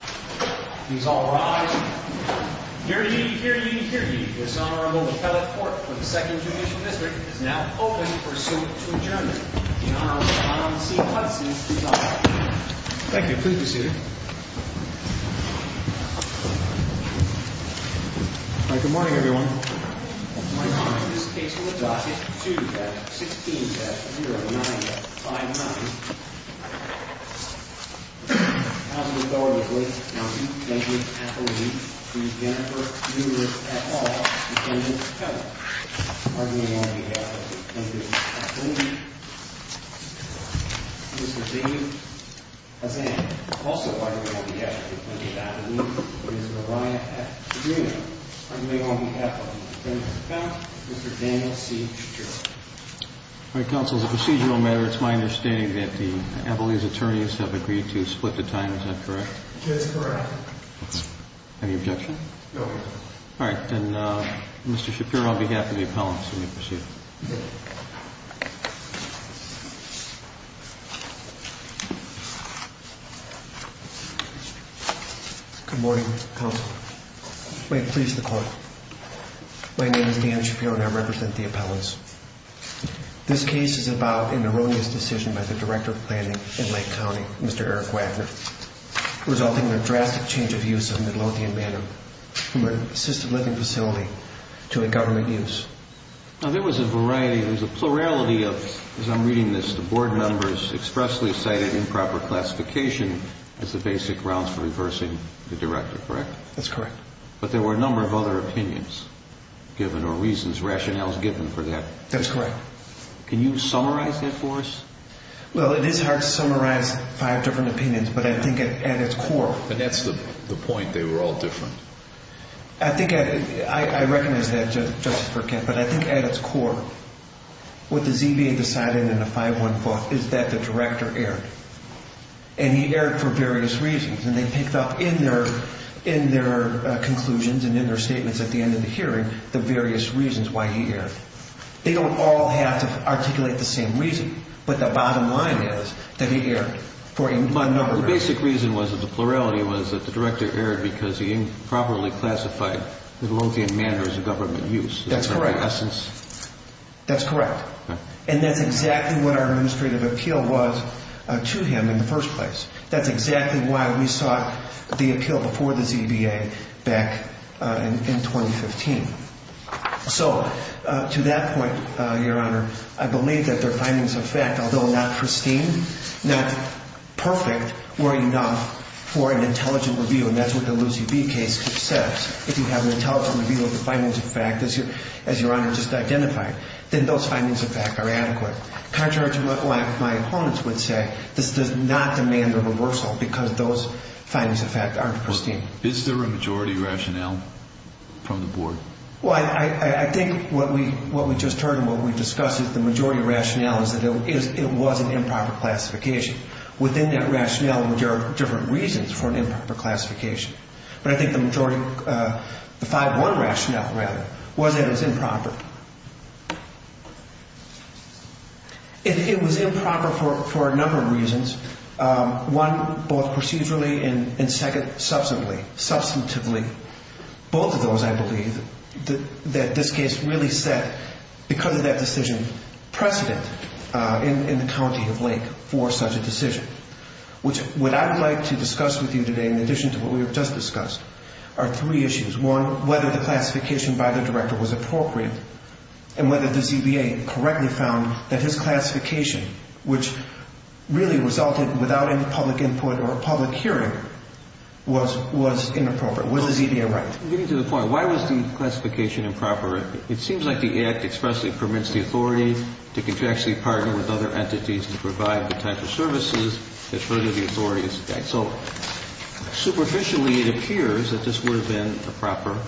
Please all rise. Hear ye, hear ye, hear ye. This Honorable Kellett Court for the 2nd Judicial District is now open for suit to adjourn. The Honorable John C. Hudson is up. Thank you. Please be seated. Good morning, everyone. My name is Casey LaDoc. It's 2-16-09-59. As is always the case, I would like to thank Ms. Kathleen, Ms. Jennifer, Mr. Mueller, et al., and Ms. Kellett. On behalf of Ms. Kathleen, Mr. David Azzam. Also on behalf of Ms. Kathleen, Mr. Ryan F. Padrino. On behalf of Ms. Jennifer Kellett, Mr. Daniel C. Shcherer. All right, counsel. As a procedural matter, it's my understanding that the appellee's attorneys have agreed to split the time. Is that correct? It is correct. Any objection? No objection. All right. Then, Mr. Shapiro, on behalf of the appellants, will you proceed? Good morning, counsel. May it please the Court. My name is Daniel Shapiro, and I represent the appellants. This case is about an erroneous decision by the Director of Planning in Lake County, Mr. Eric Wagner, resulting in a drastic change of use of Midlothian Manor from an assisted living facility to a government use. Now, there was a variety, there was a plurality of, as I'm reading this, the Board members expressly cited improper classification as the basic grounds for reversing the Director, correct? That's correct. But there were a number of other opinions given or reasons, rationales given for that. That's correct. Can you summarize that for us? Well, it is hard to summarize five different opinions, but I think at its core... And that's the point, they were all different. I think I recognize that, Justice Burkett, but I think at its core, what the ZBA decided in the 514th is that the Director erred. And he erred for various reasons, and they picked up in their conclusions and in their statements at the end of the hearing the various reasons why he erred. They don't all have to articulate the same reason, but the bottom line is that he erred for a number of reasons. But the basic reason was that the plurality was that the Director erred because he improperly classified the Midlothian Manor as a government use. That's correct. Is that the essence? That's correct. And that's exactly what our administrative appeal was to him in the first place. That's exactly why we sought the appeal before the ZBA back in 2015. So to that point, Your Honor, I believe that their findings of fact, although not pristine, not perfect, were enough for an intelligent review. And that's what the Lucy B case says. If you have an intelligent review of the findings of fact, as Your Honor just identified, then those findings of fact are adequate. Contrary to what my opponents would say, this does not demand a reversal because those findings of fact aren't pristine. Is there a majority rationale from the Board? Well, I think what we just heard and what we discussed is the majority rationale is that it was an improper classification. Within that rationale, there are different reasons for an improper classification. But I think the majority, the 5-1 rationale, rather, was that it was improper. It was improper for a number of reasons, one, both procedurally and, second, substantively. Both of those, I believe, that this case really set, because of that decision, precedent in the county of Lake for such a decision. Which what I would like to discuss with you today, in addition to what we have just discussed, are three issues. One, whether the classification by the director was appropriate and whether the ZBA correctly found that his classification, which really resulted without public input or public hearing, was inappropriate. Was the ZBA right? Getting to the point, why was the classification improper? It seems like the Act expressly permits the authority to contractually partner with other entities to provide the type of services that further the authority. So superficially, it appears that this would have been a proper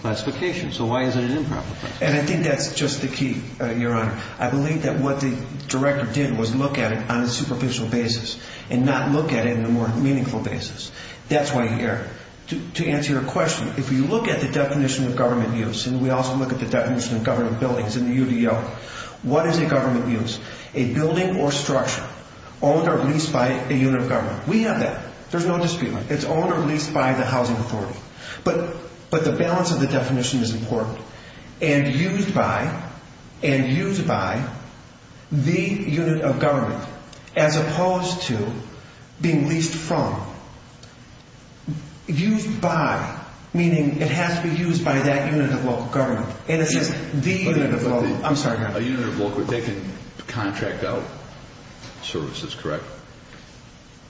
classification. So why is it an improper classification? And I think that's just the key, Your Honor. I believe that what the director did was look at it on a superficial basis and not look at it in a more meaningful basis. That's why here, to answer your question, if you look at the definition of government use, and we also look at the definition of government buildings in the UDL, what is a government use? A building or structure owned or leased by a unit of government. We have that. There's no dispute. It's owned or leased by the housing authority. But the balance of the definition is important. And used by the unit of government as opposed to being leased from. Used by, meaning it has to be used by that unit of local government. And it's just the unit of local. I'm sorry, Your Honor. A unit of local. They can contract out services, correct?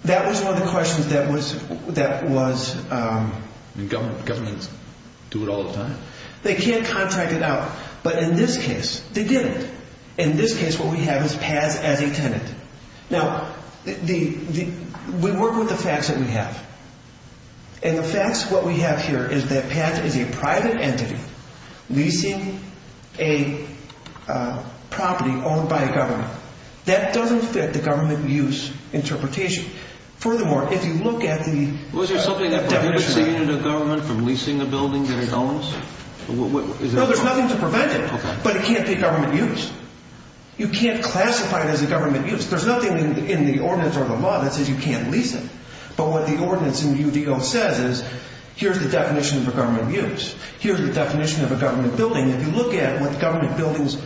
That was one of the questions that was... Governments do it all the time. They can't contract it out. But in this case, they didn't. In this case, what we have is PATH as a tenant. Now, we work with the facts that we have. And the facts, what we have here is that PATH is a private entity leasing a property owned by a government. That doesn't fit the government use interpretation. Furthermore, if you look at the definition... Was there something that prevented the unit of government from leasing a building that it owns? No, there's nothing to prevent it. But it can't be government use. You can't classify it as a government use. There's nothing in the ordinance or the law that says you can't lease it. But what the ordinance in UDO says is, here's the definition of a government use. Here's the definition of a government building. If you look at what the government buildings...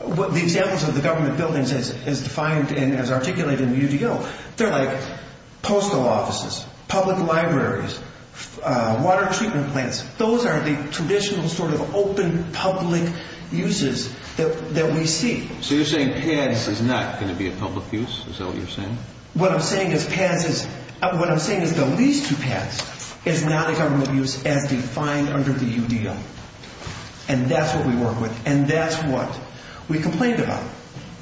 The examples of the government buildings as defined and as articulated in UDO, they're like postal offices, public libraries, water treatment plants. Those are the traditional sort of open public uses that we see. So you're saying PATH is not going to be a public use? Is that what you're saying? What I'm saying is PATH is... And that's what we work with, and that's what we complained about.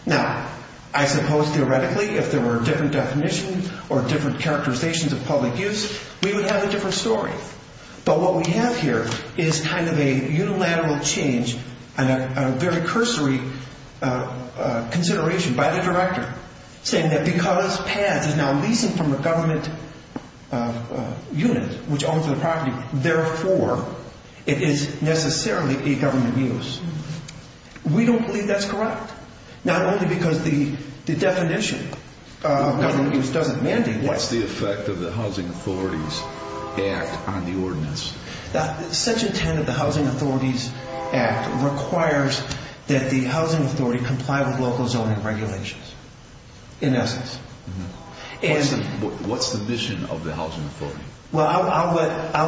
Now, I suppose theoretically, if there were a different definition or different characterizations of public use, we would have a different story. But what we have here is kind of a unilateral change and a very cursory consideration by the director, saying that because PATH is now leasing from a government unit, which owns the property, therefore, it is necessarily a government use. We don't believe that's correct. Not only because the definition of government use doesn't mandate that. What's the effect of the Housing Authorities Act on the ordinance? Section 10 of the Housing Authorities Act requires that the housing authority comply with local zoning regulations, in essence. What's the mission of the housing authority? Well, I'll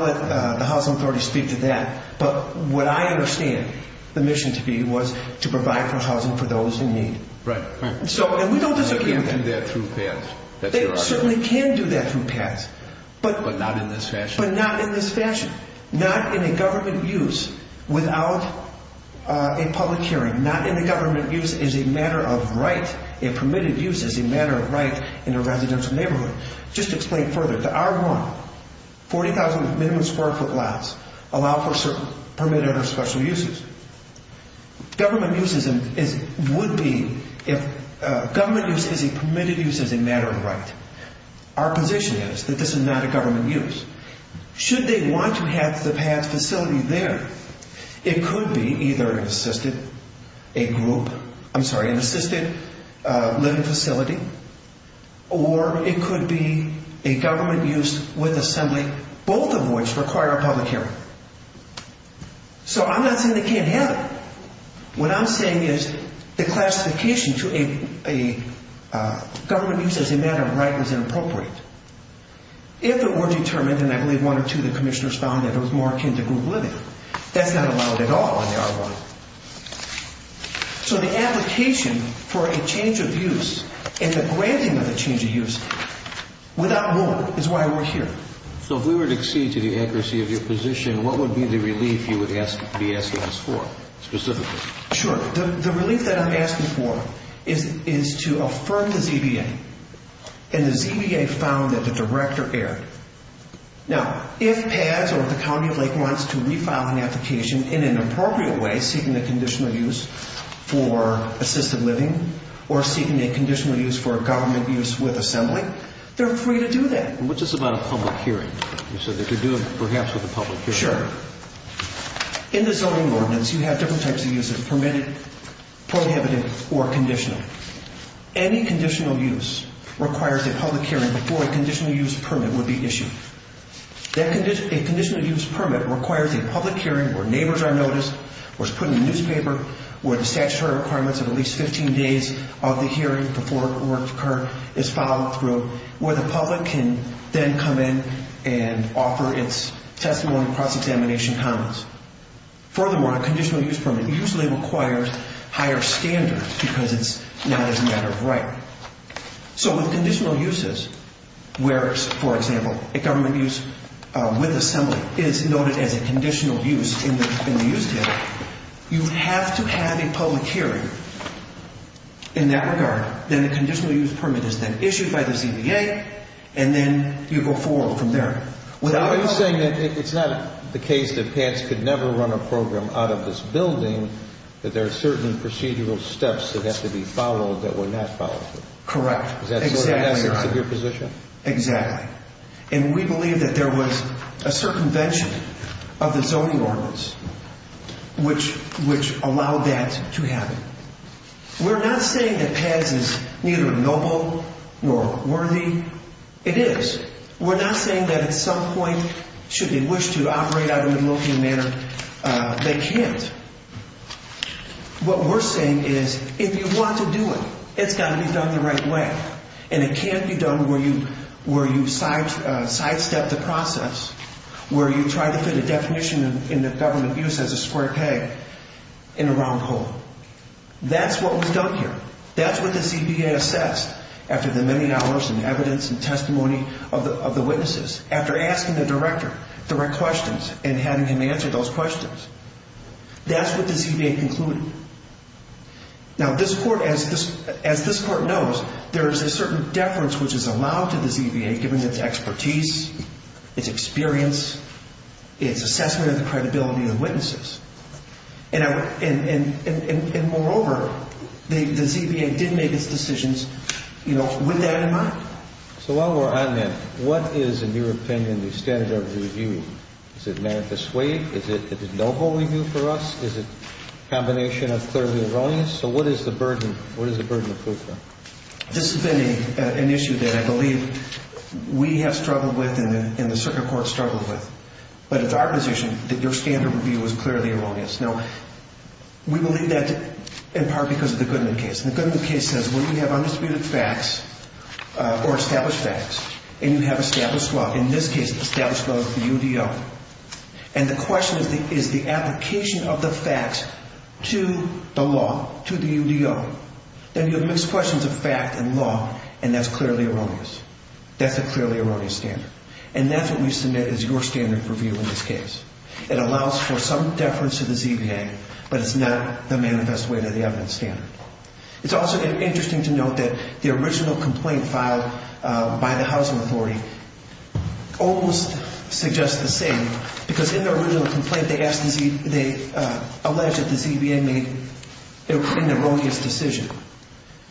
let the housing authority speak to that. But what I understand the mission to be was to provide good housing for those in need. Right. And we don't disagree with that. They can't do that through PATH. They certainly can do that through PATH. But not in this fashion? But not in this fashion. Not in a government use without a public hearing. Not in a government use as a matter of right, a permitted use as a matter of right in a residential neighborhood. Just to explain further, the R1, 40,000 with minimum square foot lots, allow for certain permitted or special uses. Government use would be if government use is a permitted use as a matter of right. Our position is that this is not a government use. Should they want to have the PATH facility there, it could be either an assisted living facility or it could be a government use with assembly, both of which require a public hearing. So I'm not saying they can't have it. What I'm saying is the classification to a government use as a matter of right is inappropriate. If it were determined, and I believe one or two of the commissioners found that it was more akin to group living, that's not allowed at all on the R1. So the application for a change of use and the granting of a change of use without rule is why we're here. So if we were to accede to the accuracy of your position, what would be the relief you would be asking us for specifically? Sure. The relief that I'm asking for is to affirm the ZBA. And the ZBA found that the director erred. Now, if PATH or if the county of Lakewood wants to refile an application in an appropriate way, seeking a conditional use for assisted living or seeking a conditional use for a government use with assembly, they're free to do that. And what's this about a public hearing? You said they could do it perhaps with a public hearing. Sure. In the zoning ordinance, you have different types of uses, permitted, prohibited, or conditional. Any conditional use requires a public hearing before a conditional use permit would be issued. A conditional use permit requires a public hearing where neighbors are noticed, where it's put in the newspaper, where the statutory requirements of at least 15 days of the hearing before work occur is followed through, where the public can then come in and offer its testimony and cross-examination comments. Furthermore, a conditional use permit usually requires higher standards because it's not a matter of right. So with conditional uses, where, for example, a government use with assembly is noted as a conditional use in the use data, you have to have a public hearing in that regard. Then a conditional use permit is then issued by the ZBA, and then you go forward from there. Are you saying that it's not the case that PADS could never run a program out of this building, that there are certain procedural steps that have to be followed that were not followed through? Correct. Is that sort of the essence of your position? Exactly. And we believe that there was a circumvention of the zoning ordinance which allowed that to happen. We're not saying that PADS is neither noble nor worthy. It is. We're not saying that at some point, should they wish to operate out of a milking manor, they can't. What we're saying is if you want to do it, it's got to be done the right way, and it can't be done where you sidestep the process, where you try to fit a definition in the government use as a square peg in a round hole. That's what was done here. That's what the ZBA assessed after the many hours and evidence and testimony of the witnesses, after asking the director direct questions and having him answer those questions. That's what the ZBA concluded. Now, this court, as this court knows, there is a certain deference which is allowed to the ZBA given its expertise, its experience, its assessment of the credibility of the witnesses. And moreover, the ZBA did make its decisions with that in mind. So while we're on that, what is, in your opinion, the standard of review? Is it manifest way? Is it a noble review for us? Is it a combination of clearly erroneous? So what is the burden of proof then? This has been an issue that I believe we have struggled with and the circuit court struggled with. But it's our position that your standard of review is clearly erroneous. Now, we believe that in part because of the Goodman case. And the Goodman case says when you have undisputed facts or established facts, and you have established law, in this case, established law is the UDO. And the question is the application of the facts to the law, to the UDO. Then you have mixed questions of fact and law, and that's clearly erroneous. That's a clearly erroneous standard. And that's what we submit as your standard of review in this case. It allows for some deference to the ZBA, but it's not the manifest way to the evidence standard. It's also interesting to note that the original complaint filed by the housing authority almost suggests the same because in their original complaint, they alleged that the ZBA made an erroneous decision.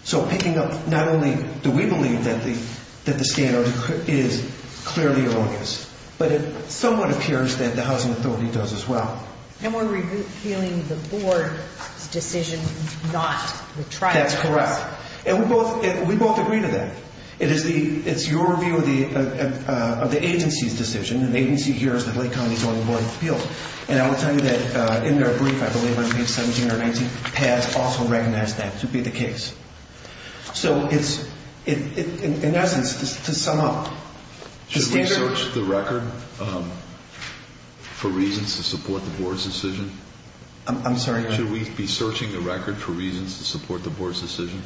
So picking up, not only do we believe that the standard is clearly erroneous, but it somewhat appears that the housing authority does as well. And we're repealing the board's decision, not the tribe's. That's correct. And we both agree to that. It's your review of the agency's decision, and the agency hears that Lake County is willing to appeal. And I will tell you that in their brief, I believe, on page 17 or 19, has also recognized that to be the case. So it's, in essence, to sum up. Should we search the record for reasons to support the board's decision? I'm sorry? Should we be searching the record for reasons to support the board's decision?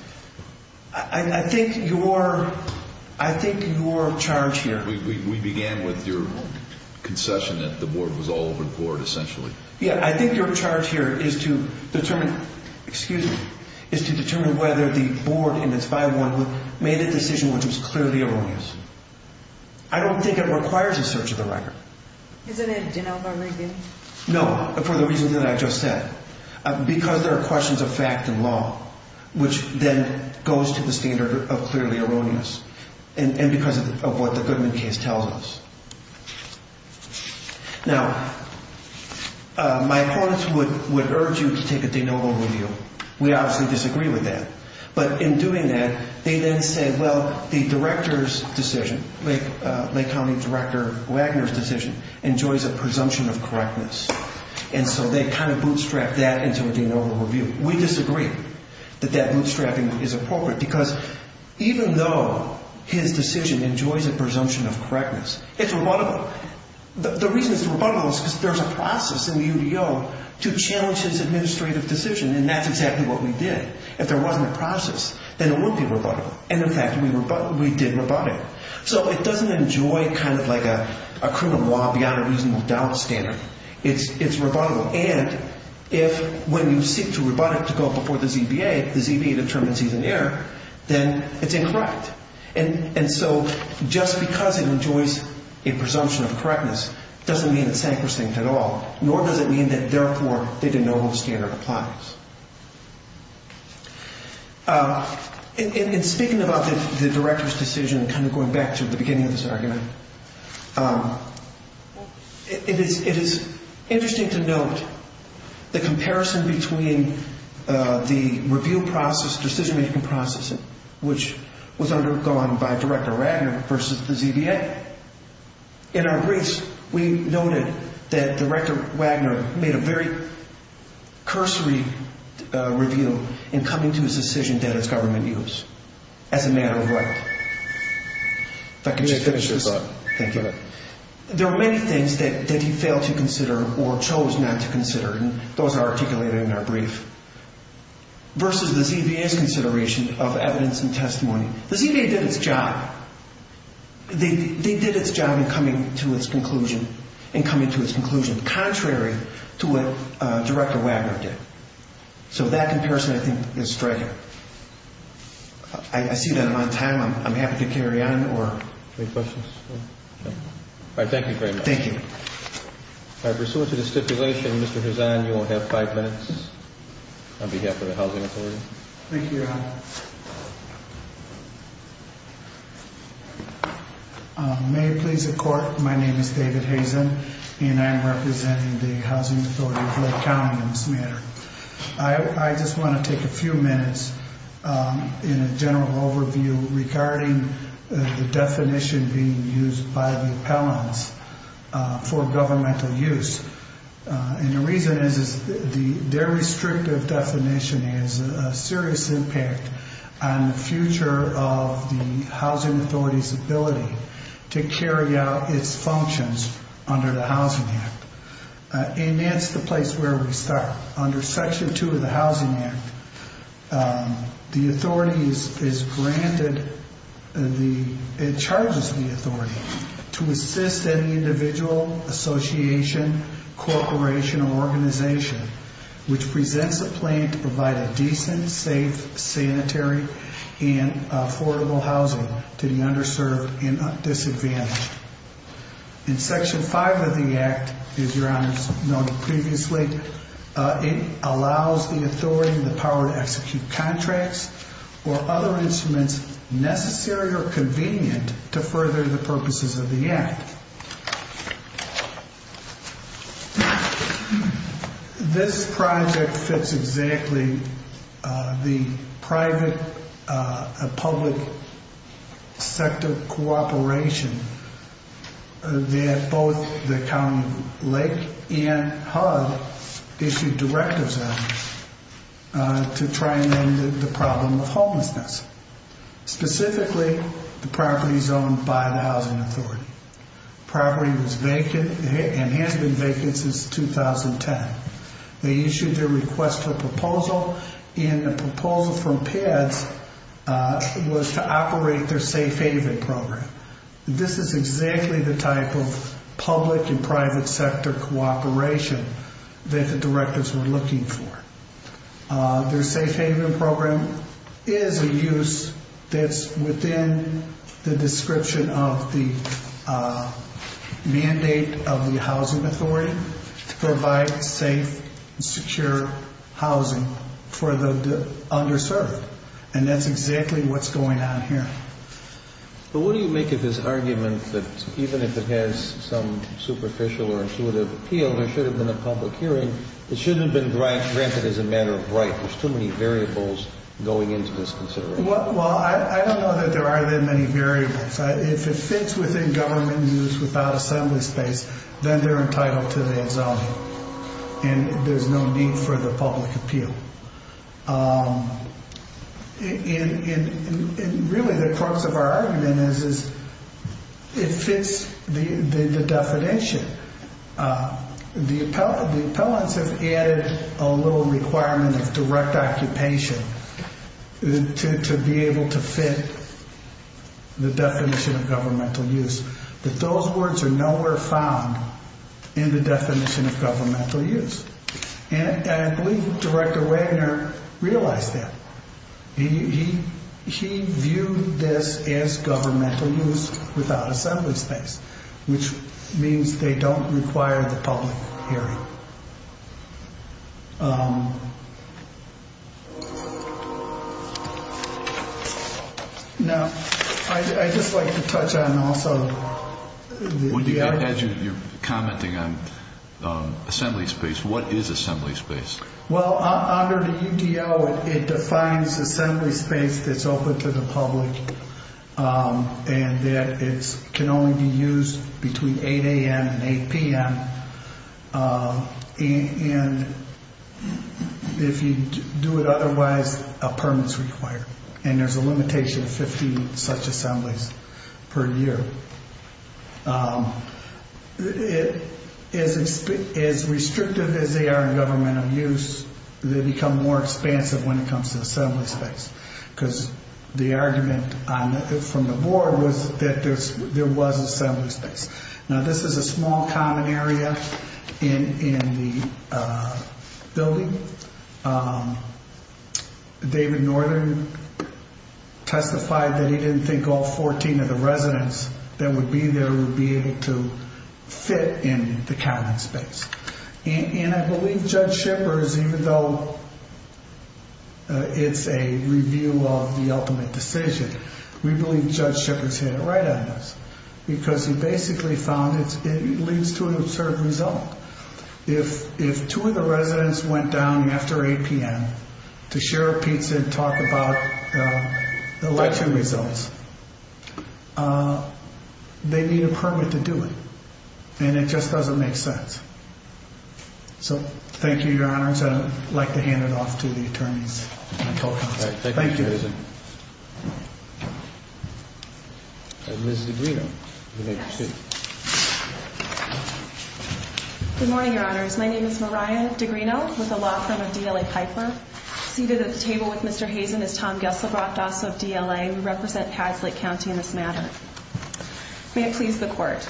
I think your charge here. We began with your concession that the board was all over the board, essentially. Yeah, I think your charge here is to determine, excuse me, is to determine whether the board in its bylaw made a decision which was clearly erroneous. I don't think it requires a search of the record. Isn't it, you know, very good? No, for the reasons that I just said. Because there are questions of fact and law, which then goes to the standard of clearly erroneous. And because of what the Goodman case tells us. Now, my opponents would urge you to take a de novo review. We obviously disagree with that. But in doing that, they then say, well, the director's decision, Lake County Director Wagner's decision, enjoys a presumption of correctness. And so they kind of bootstrap that into a de novo review. We disagree that that bootstrapping is appropriate. Because even though his decision enjoys a presumption of correctness, it's rebuttable. The reason it's rebuttable is because there's a process in the UDO to challenge his administrative decision. And that's exactly what we did. If there wasn't a process, then it wouldn't be rebuttable. And, in fact, we did rebut it. So it doesn't enjoy kind of like a criminal law beyond a reasonable doubt standard. It's rebuttable. And if when you seek to rebut it to go before the ZBA, the ZBA determines he's an error, then it's incorrect. And so just because it enjoys a presumption of correctness doesn't mean it's sacrosanct at all. Nor does it mean that, therefore, they didn't know how the standard applies. In speaking about the director's decision, kind of going back to the beginning of this argument, it is interesting to note the comparison between the review process, decision-making process, which was undergone by Director Wagner versus the ZBA. In our briefs, we noted that Director Wagner made a very cursory review in coming to his decision that his government used as a matter of right. If I could just finish this up. Thank you. There are many things that he failed to consider or chose not to consider, and those are articulated in our brief, versus the ZBA's consideration of evidence and testimony. The ZBA did its job. They did its job in coming to its conclusion, contrary to what Director Wagner did. So that comparison, I think, is striking. I see that I'm on time. I'm happy to carry on. Any questions? All right. Thank you very much. Thank you. Pursuant to the stipulation, Mr. Hazan, you will have five minutes on behalf of the Housing Authority. Thank you, Your Honor. May it please the Court, my name is David Hazan, and I am representing the Housing Authority of Lake County on this matter. I just want to take a few minutes in a general overview regarding the definition being used by the appellants for governmental use. And the reason is their restrictive definition has a serious impact on the future of the Housing Authority's ability to carry out its functions under the Housing Act. And that's the place where we start. Under Section 2 of the Housing Act, the authority is granted, it charges the authority to assist any individual, association, corporation, or organization which presents a plan to provide a decent, safe, sanitary, and affordable housing to the underserved and disadvantaged. In Section 5 of the Act, as Your Honors noted previously, it allows the authority and the power to execute contracts or other instruments necessary or convenient to further the purposes of the Act. This project fits exactly the private and public sector cooperation that both the County of Lake and HUD issued directives on to try and end the problem of homelessness, specifically the properties owned by the Housing Authority. The property was vacant and has been vacant since 2010. They issued their request for proposal, and the proposal from PEDS was to operate their Safe Haven Program. This is exactly the type of public and private sector cooperation that the directives were looking for. Their Safe Haven Program is a use that's within the description of the mandate of the Housing Authority to provide safe, secure housing for the underserved, and that's exactly what's going on here. But what do you make of this argument that even if it has some superficial or intuitive appeal, there should have been a public hearing, it shouldn't have been granted as a matter of right. There's too many variables going into this consideration. Well, I don't know that there are that many variables. If it fits within government use without assembly space, then they're entitled to the exemption, and there's no need for the public appeal. Really, the crux of our argument is it fits the definition. The appellants have added a little requirement of direct occupation to be able to fit the definition of governmental use, but those words are nowhere found in the definition of governmental use. And I believe Director Wagner realized that. He viewed this as governmental use without assembly space, which means they don't require the public hearing. Now, I'd just like to touch on also the idea that you're commenting on assembly space. What is assembly space? Well, under the UDL, it defines assembly space that's open to the public and that it can only be used between 8 a.m. and 8 p.m., and if you do it otherwise, a permit is required, and there's a limitation of 50 such assemblies per year. As restrictive as they are in governmental use, they become more expansive when it comes to assembly space because the argument from the board was that there was assembly space. Now, this is a small common area in the building. David Northern testified that he didn't think all 14 of the residents that would be there would be able to fit in the common space, and I believe Judge Shippers, even though it's a review of the ultimate decision, we believe Judge Shippers hit it right on this because he basically found it leads to an absurd result. If two of the residents went down after 8 p.m. to share a pizza and talk about election results, they need a permit to do it, and it just doesn't make sense. So thank you, Your Honors. I'd like to hand it off to the attorneys. Thank you. Good morning, Your Honors. My name is Mariah Degrino with the law firm of DLA Piper. Seated at the table with Mr. Hazen is Tom Geselbrock, DASO of DLA. We represent Hadslake County in this matter. May it please the Court.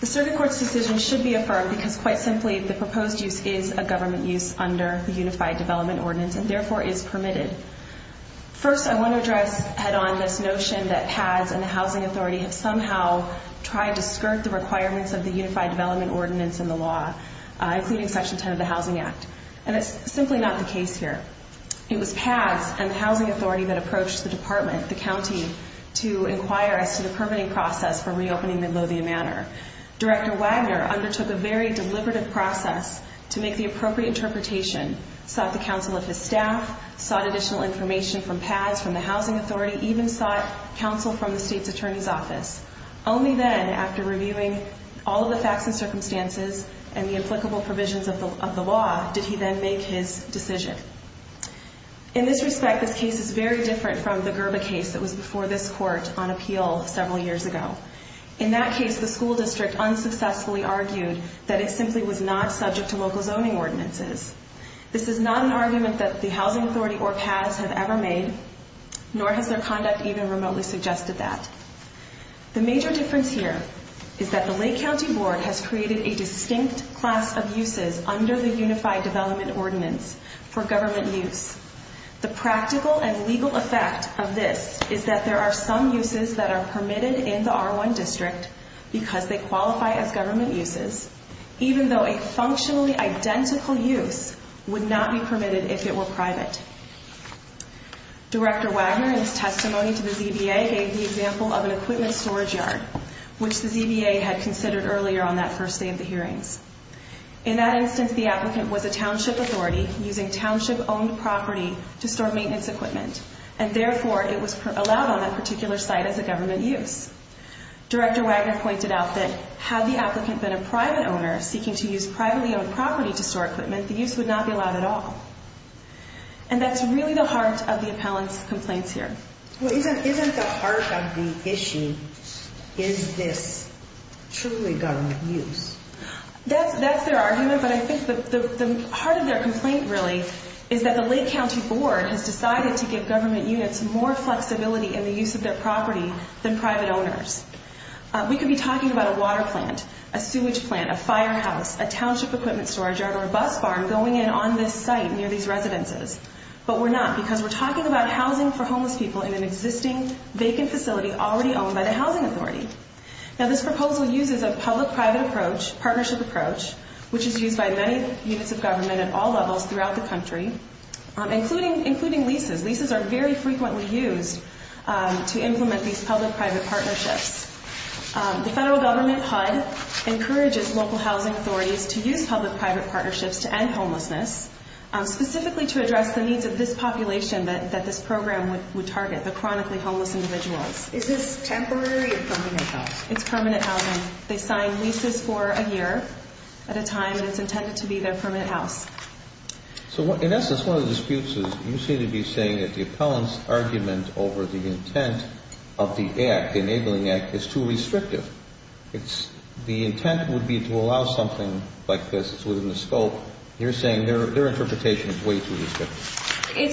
The Circuit Court's decision should be affirmed because, quite simply, the proposed use is a government use under the Unified Development Ordinance and, therefore, is permitted. First, I want to address head-on this notion that PADS and the Housing Authority have somehow tried to skirt the requirements of the Unified Development Ordinance in the law, including Section 10 of the Housing Act, and it's simply not the case here. It was PADS and the Housing Authority that approached the department, the county, to inquire as to the permitting process for reopening Midlothian Manor. Director Wagner undertook a very deliberative process to make the appropriate interpretation, sought the counsel of his staff, sought additional information from PADS, from the Housing Authority, even sought counsel from the state's attorney's office. Only then, after reviewing all of the facts and circumstances and the applicable provisions of the law, did he then make his decision. In this respect, this case is very different from the Gerba case that was before this court on appeal several years ago. In that case, the school district unsuccessfully argued that it simply was not subject to local zoning ordinances. This is not an argument that the Housing Authority or PADS have ever made, nor has their conduct even remotely suggested that. The major difference here is that the Lake County Board has created a distinct class of uses under the Unified Development Ordinance for government use. The practical and legal effect of this is that there are some uses that are permitted in the R1 district because they qualify as government uses, even though a functionally identical use would not be permitted if it were private. Director Wagner, in his testimony to the ZBA, gave the example of an equipment storage yard, which the ZBA had considered earlier on that first day of the hearings. In that instance, the applicant was a township authority using township-owned property to store maintenance equipment, and therefore it was allowed on that particular site as a government use. Director Wagner pointed out that had the applicant been a private owner seeking to use privately owned property to store equipment, the use would not be allowed at all. And that's really the heart of the appellant's complaints here. Well, isn't the heart of the issue, is this truly government use? That's their argument, but I think the heart of their complaint really is that the Lake County Board has decided to give government units more flexibility in the use of their property than private owners. We could be talking about a water plant, a sewage plant, a firehouse, a township equipment storage yard, or a bus farm going in on this site near these residences, but we're not because we're talking about housing for homeless people in an existing vacant facility already owned by the housing authority. Now, this proposal uses a public-private partnership approach, which is used by many units of government at all levels throughout the country, including leases. Leases are very frequently used to implement these public-private partnerships. The federal government HUD encourages local housing authorities to use public-private partnerships to end homelessness, specifically to address the needs of this population that this program would target, the chronically homeless individuals. Is this temporary or permanent housing? It's permanent housing. They sign leases for a year at a time, and it's intended to be their permanent house. So in essence, one of the disputes is you seem to be saying that the appellant's argument over the intent of the Act, the Enabling Act, is too restrictive. The intent would be to allow something like this within the scope. You're saying their interpretation is way too restrictive. I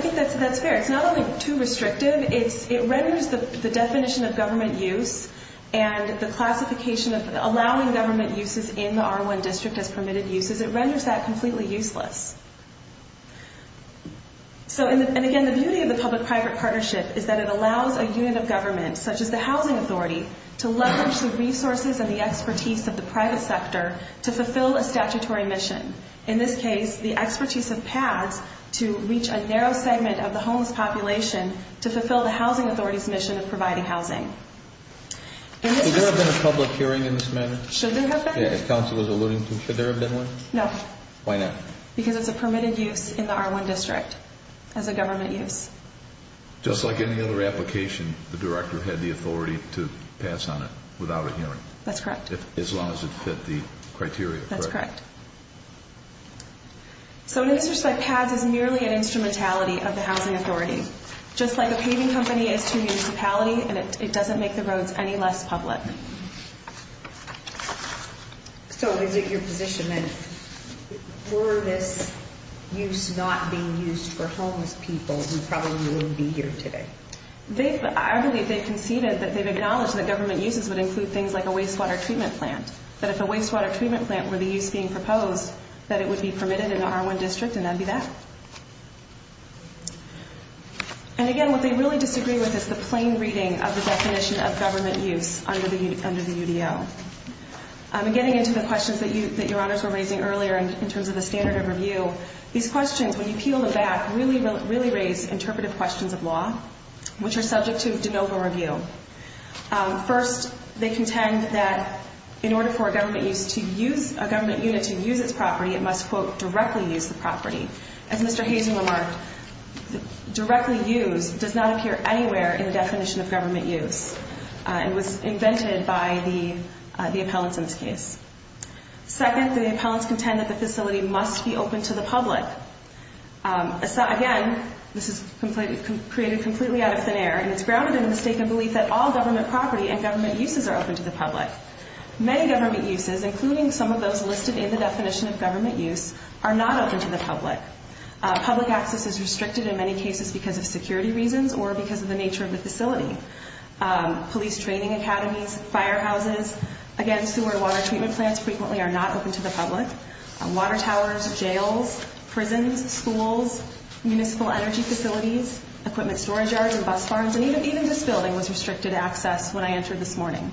think that's fair. It's not only too restrictive, it renders the definition of government use and the classification of allowing government uses in the R1 district as permitted uses, it renders that completely useless. And again, the beauty of the public-private partnership is that it allows a unit of government, such as the housing authority, to leverage the resources and the expertise of the private sector to fulfill a statutory mission. In this case, the expertise of PATHS to reach a narrow segment of the homeless population to fulfill the housing authority's mission of providing housing. Should there have been a public hearing in this matter? Should there have been? If counsel was alluding to, should there have been one? No. Why not? Because it's a permitted use in the R1 district as a government use. Just like any other application, the director had the authority to pass on it without a hearing. That's correct. As long as it fit the criteria, correct? That's correct. So an interest like PATHS is merely an instrumentality of the housing authority. Just like a paving company is to a municipality, it doesn't make the roads any less public. So is it your position that for this use not being used for homeless people who probably wouldn't be here today? I believe they've conceded that they've acknowledged that government uses would include things like a wastewater treatment plant, that if a wastewater treatment plant were the use being proposed, that it would be permitted in the R1 district and that would be that. And again, what they really disagree with is the plain reading of the definition of government use under the UDL. Getting into the questions that your honors were raising earlier in terms of the standard of review, these questions, when you peel them back, really raise interpretive questions of law which are subject to de novo review. First, they contend that in order for a government unit to use its property, it must, quote, directly use the property. As Mr. Hazen remarked, directly use does not appear anywhere in the definition of government use. It was invented by the appellants in this case. Second, the appellants contend that the facility must be open to the public. Again, this is created completely out of thin air, and it's grounded in the mistaken belief that all government property and government uses are open to the public. Many government uses, including some of those listed in the definition of government use, are not open to the public. Public access is restricted in many cases because of security reasons or because of the nature of the facility. Police training academies, firehouses, again, sewer and water treatment plants frequently are not open to the public. Water towers, jails, prisons, schools, municipal energy facilities, equipment storage yards and bus farms, and even this building was restricted access when I entered this morning.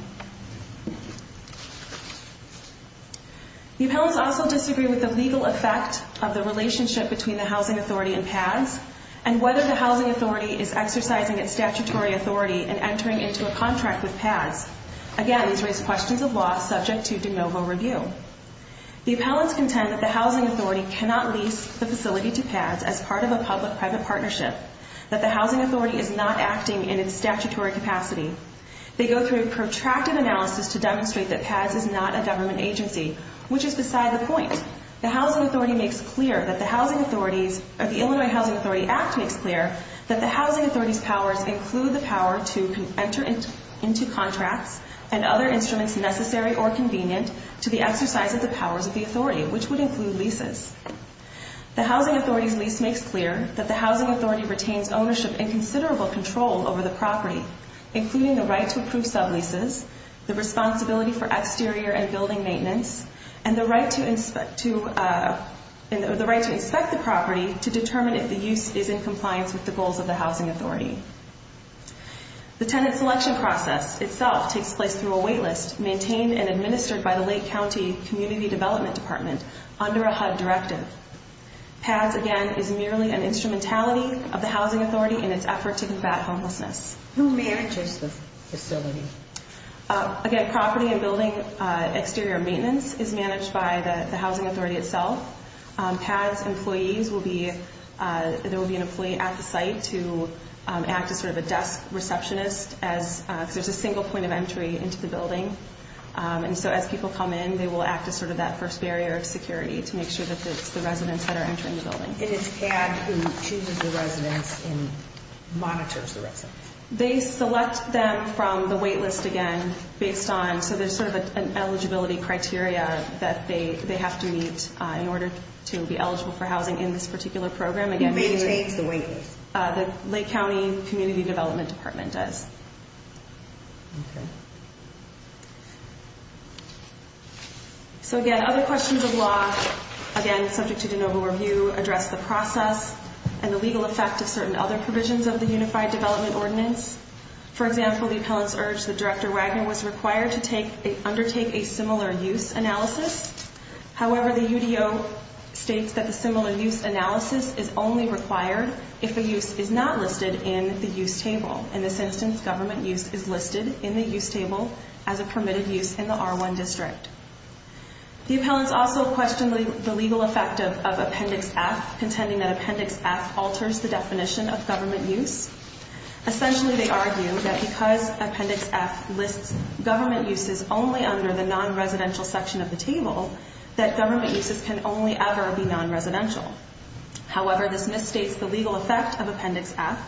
The appellants also disagree with the legal effect of the relationship between the housing authority and PADS and whether the housing authority is exercising its statutory authority in entering into a contract with PADS. Again, these raise questions of law subject to de novo review. The appellants contend that the housing authority cannot lease the facility to PADS as part of a public-private partnership, that the housing authority is not acting in its statutory capacity. They go through a protracted analysis to demonstrate that PADS is not a government agency, which is beside the point. The housing authority makes clear that the housing authority's or the Illinois Housing Authority Act makes clear that the housing authority's powers include the power to enter into contracts and other instruments necessary or convenient to the exercise of the powers of the authority, which would include leases. The housing authority's lease makes clear that the housing authority retains ownership and considerable control over the property, including the right to approve subleases, the responsibility for exterior and building maintenance, and the right to inspect the property to determine if the use is in compliance with the goals of the housing authority. The tenant selection process itself takes place through a wait list maintained and administered by the Lake County Community Development Department under a HUD directive. PADS, again, is merely an instrumentality of the housing authority in its effort to combat homelessness. Who manages the facility? Again, property and building exterior maintenance is managed by the housing authority itself. PADS employees will be, there will be an employee at the site to act as sort of a desk receptionist as there's a single point of entry into the building. And so as people come in, they will act as sort of that first barrier of security to make sure that it's the residents that are entering the building. And it's PADS who chooses the residents and monitors the residents? They select them from the wait list again based on, so there's sort of an eligibility criteria that they have to meet in order to be eligible for housing in this particular program. Who maintains the wait list? The Lake County Community Development Department does. Okay. So again, other questions of law, again, subject to de novo review, address the process and the legal effect of certain other provisions of the Unified Development Ordinance. For example, the appellants urged that Director Wagner was required to undertake a similar use analysis. However, the UDO states that the similar use analysis is only required if a use is not listed in the use table. In this instance, government use is listed in the use table as a permitted use in the R1 district. The appellants also questioned the legal effect of Appendix F, contending that Appendix F alters the definition of government use. Essentially, they argue that because Appendix F lists government uses only under the non-residential section of the table, that government uses can only ever be non-residential. However, this misstates the legal effect of Appendix F.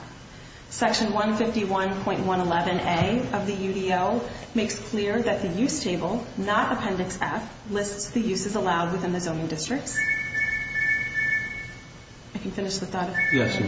Section 151.11a of the UDO makes clear that the use table, not Appendix F, lists the uses allowed within the zoning districts. I can finish with that? Yes, you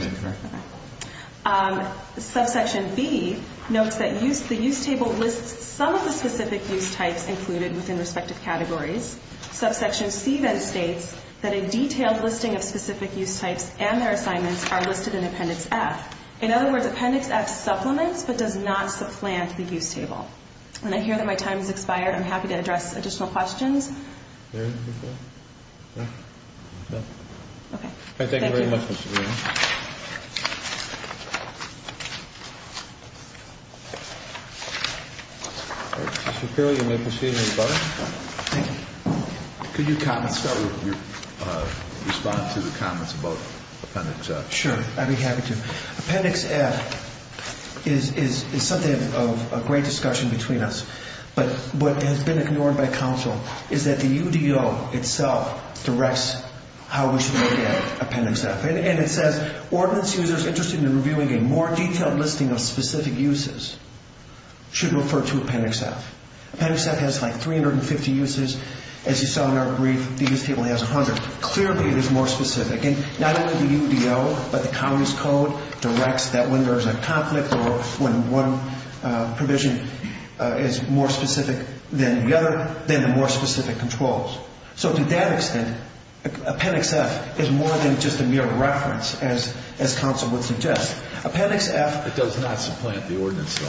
may. Subsection B notes that the use table lists some of the specific use types included within respective categories. Subsection C then states that a detailed listing of specific use types and their assignments are listed in Appendix F. In other words, Appendix F supplements but does not supplant the use table. I hear that my time has expired. I'm happy to address additional questions. Thank you very much, Ms. Shapiro. Ms. Shapiro, you may proceed. Thank you. Could you respond to the comments about Appendix F? Sure, I'd be happy to. Appendix F is something of a great discussion between us, but what has been ignored by counsel is that the UDO itself directs how we should look at Appendix F. And it says, Ordinance users interested in reviewing a more detailed listing of specific uses should refer to Appendix F. Appendix F has like 350 uses. As you saw in our brief, the use table has 100. Clearly, it is more specific. And not only the UDO, but the county's code directs that when there's a conflict or when one provision is more specific than the other, then the more specific controls. So to that extent, Appendix F is more than just a mere reference, as counsel would suggest. Appendix F does not supplant the ordinance.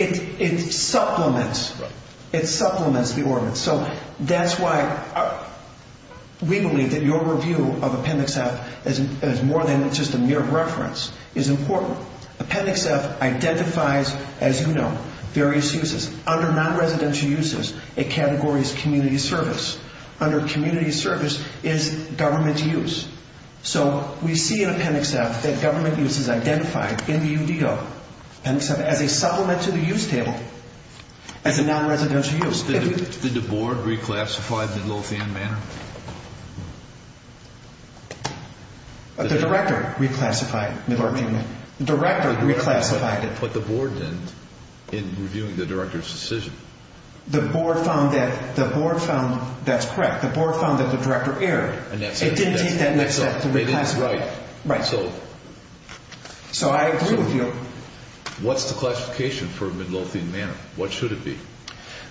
It supplements the ordinance. So that's why we believe that your review of Appendix F is more than just a mere reference. It's important. Appendix F identifies, as you know, various uses. Under non-residential uses, a category is community service. Under community service is government use. So we see in Appendix F that government use is identified in the UDO. Appendix F, as a supplement to the use table, as a non-residential use. Did the board reclassify Midlothian Manor? The director reclassified Midlothian Manor. The director reclassified it. But the board didn't in reviewing the director's decision. The board found that the board found that's correct. The board found that the director erred. It didn't take that next step to reclassify. Right. So I agree with you. What's the classification for Midlothian Manor? What should it be?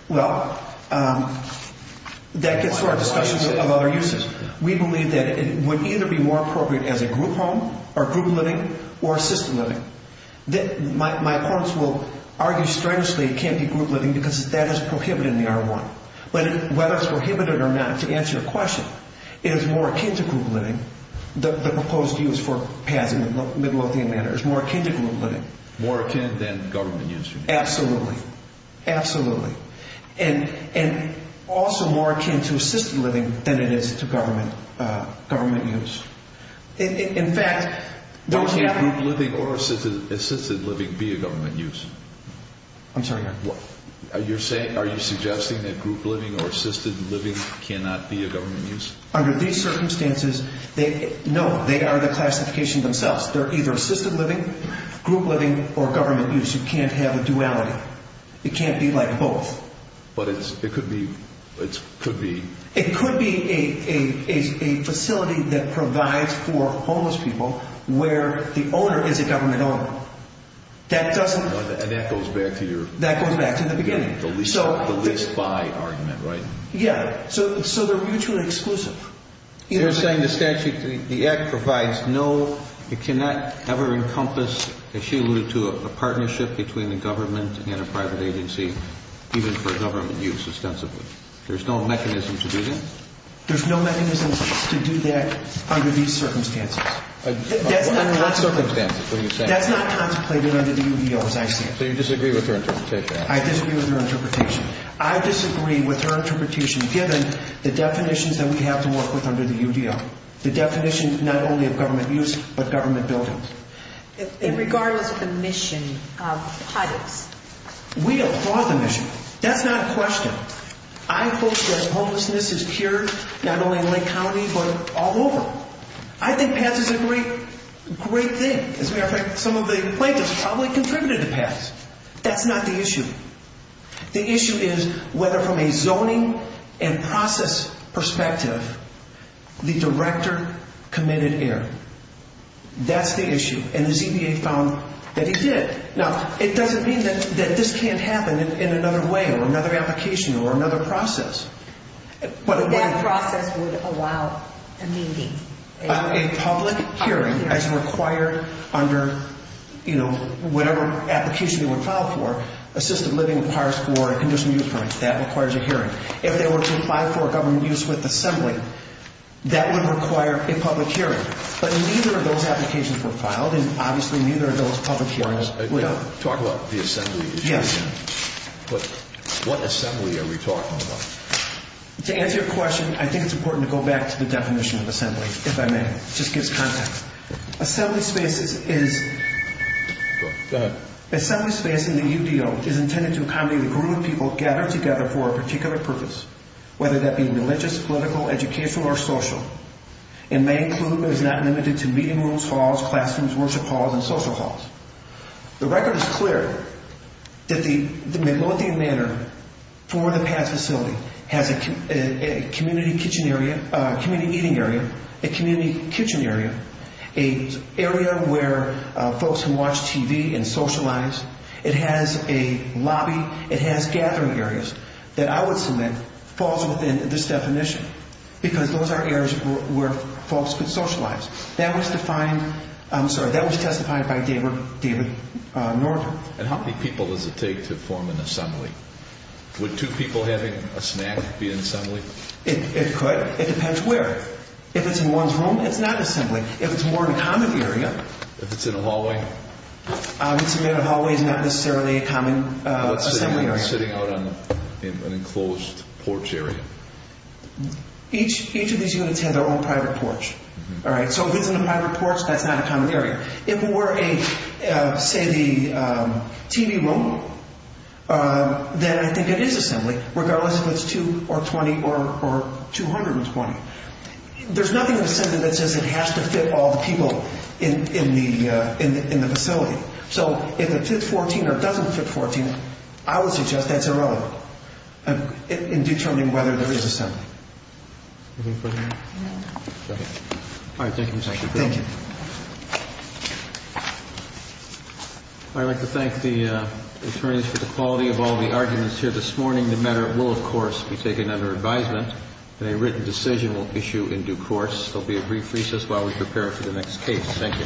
Well, that gets to our discussion of other uses. We believe that it would either be more appropriate as a group home or group living or assisted living. My opponents will argue strenuously it can't be group living because that is prohibited in the R1. Whether it's prohibited or not, to answer your question, it is more akin to group living. The proposed use for passing Midlothian Manor is more akin to group living. More akin than government use? Absolutely. Absolutely. And also more akin to assisted living than it is to government use. In fact, those happen. Why can't group living or assisted living be a government use? I'm sorry? Are you suggesting that group living or assisted living cannot be a government use? Under these circumstances, no, they are the classification themselves. They're either assisted living, group living, or government use. You can't have a duality. It can't be like both. But it could be. It could be a facility that provides for homeless people where the owner is a government owner. And that goes back to your list by argument, right? Yeah. So they're mutually exclusive. You're saying the statute, the act provides no, it cannot ever encompass, as she alluded to, a partnership between the government and a private agency, even for government use, ostensibly. There's no mechanism to do that? There's no mechanism to do that under these circumstances. Under what circumstances? That's not contemplated under the UDO, as I see it. So you disagree with her interpretation? I disagree with her interpretation. I disagree with her interpretation, given the definitions that we have to work with under the UDO, the definition not only of government use, but government buildings. Regardless of the mission, HUD is? We applaud the mission. That's not a question. I hope that homelessness is cured, not only in Lake County, but all over. I think PASS is a great thing. As a matter of fact, some of the plaintiffs probably contributed to PASS. That's not the issue. The issue is whether, from a zoning and process perspective, the director committed error. That's the issue. And the ZBA found that he did. Now, it doesn't mean that this can't happen in another way or another application or another process. That process would allow a meeting? A public hearing as required under, you know, whatever application they would file for. Assisted living requires for a conditional use permit. That requires a hearing. If they were to file for a government use with assembly, that would require a public hearing. But neither of those applications were filed, and obviously neither of those public hearings. Talk about the assembly. Yes. What assembly are we talking about? To answer your question, I think it's important to go back to the definition of assembly, if I may. It just gives context. Assembly space is... Go ahead. Assembly space in the UDO is intended to accommodate a group of people gathered together for a particular purpose, whether that be religious, political, educational, or social. It may include, but is not limited to, meeting rooms, halls, classrooms, worship halls, and social halls. The record is clear that the MacLean Manor, for the past facility, has a community kitchen area, a community eating area, a community kitchen area, an area where folks can watch TV and socialize. It has a lobby. It has gathering areas that I would submit falls within this definition because those are areas where folks could socialize. That was defined... I'm sorry. That was testified by David Norton. And how many people does it take to form an assembly? Would two people having a snack be an assembly? It could. It depends where. If it's in one's room, it's not an assembly. If it's more of a common area... If it's in a hallway? If it's in a hallway, it's not necessarily a common assembly area. What if it's sitting out on an enclosed porch area? Each of these units had their own private porch. So if it's in a private porch, that's not a common area. If it were, say, the TV room, then I think it is assembly, regardless if it's 220 or 220. There's nothing in the Senate that says it has to fit all the people in the facility. So if it fits 14 or doesn't fit 14, I would suggest that's irrelevant in determining whether there is assembly. Anything further? No. All right. Thank you, Mr. Chairman. Thank you. I'd like to thank the attorneys for the quality of all the arguments here this morning. The matter will, of course, be taken under advisement, and a written decision will issue in due course. There will be a brief recess while we prepare for the next case. Thank you. Good evening.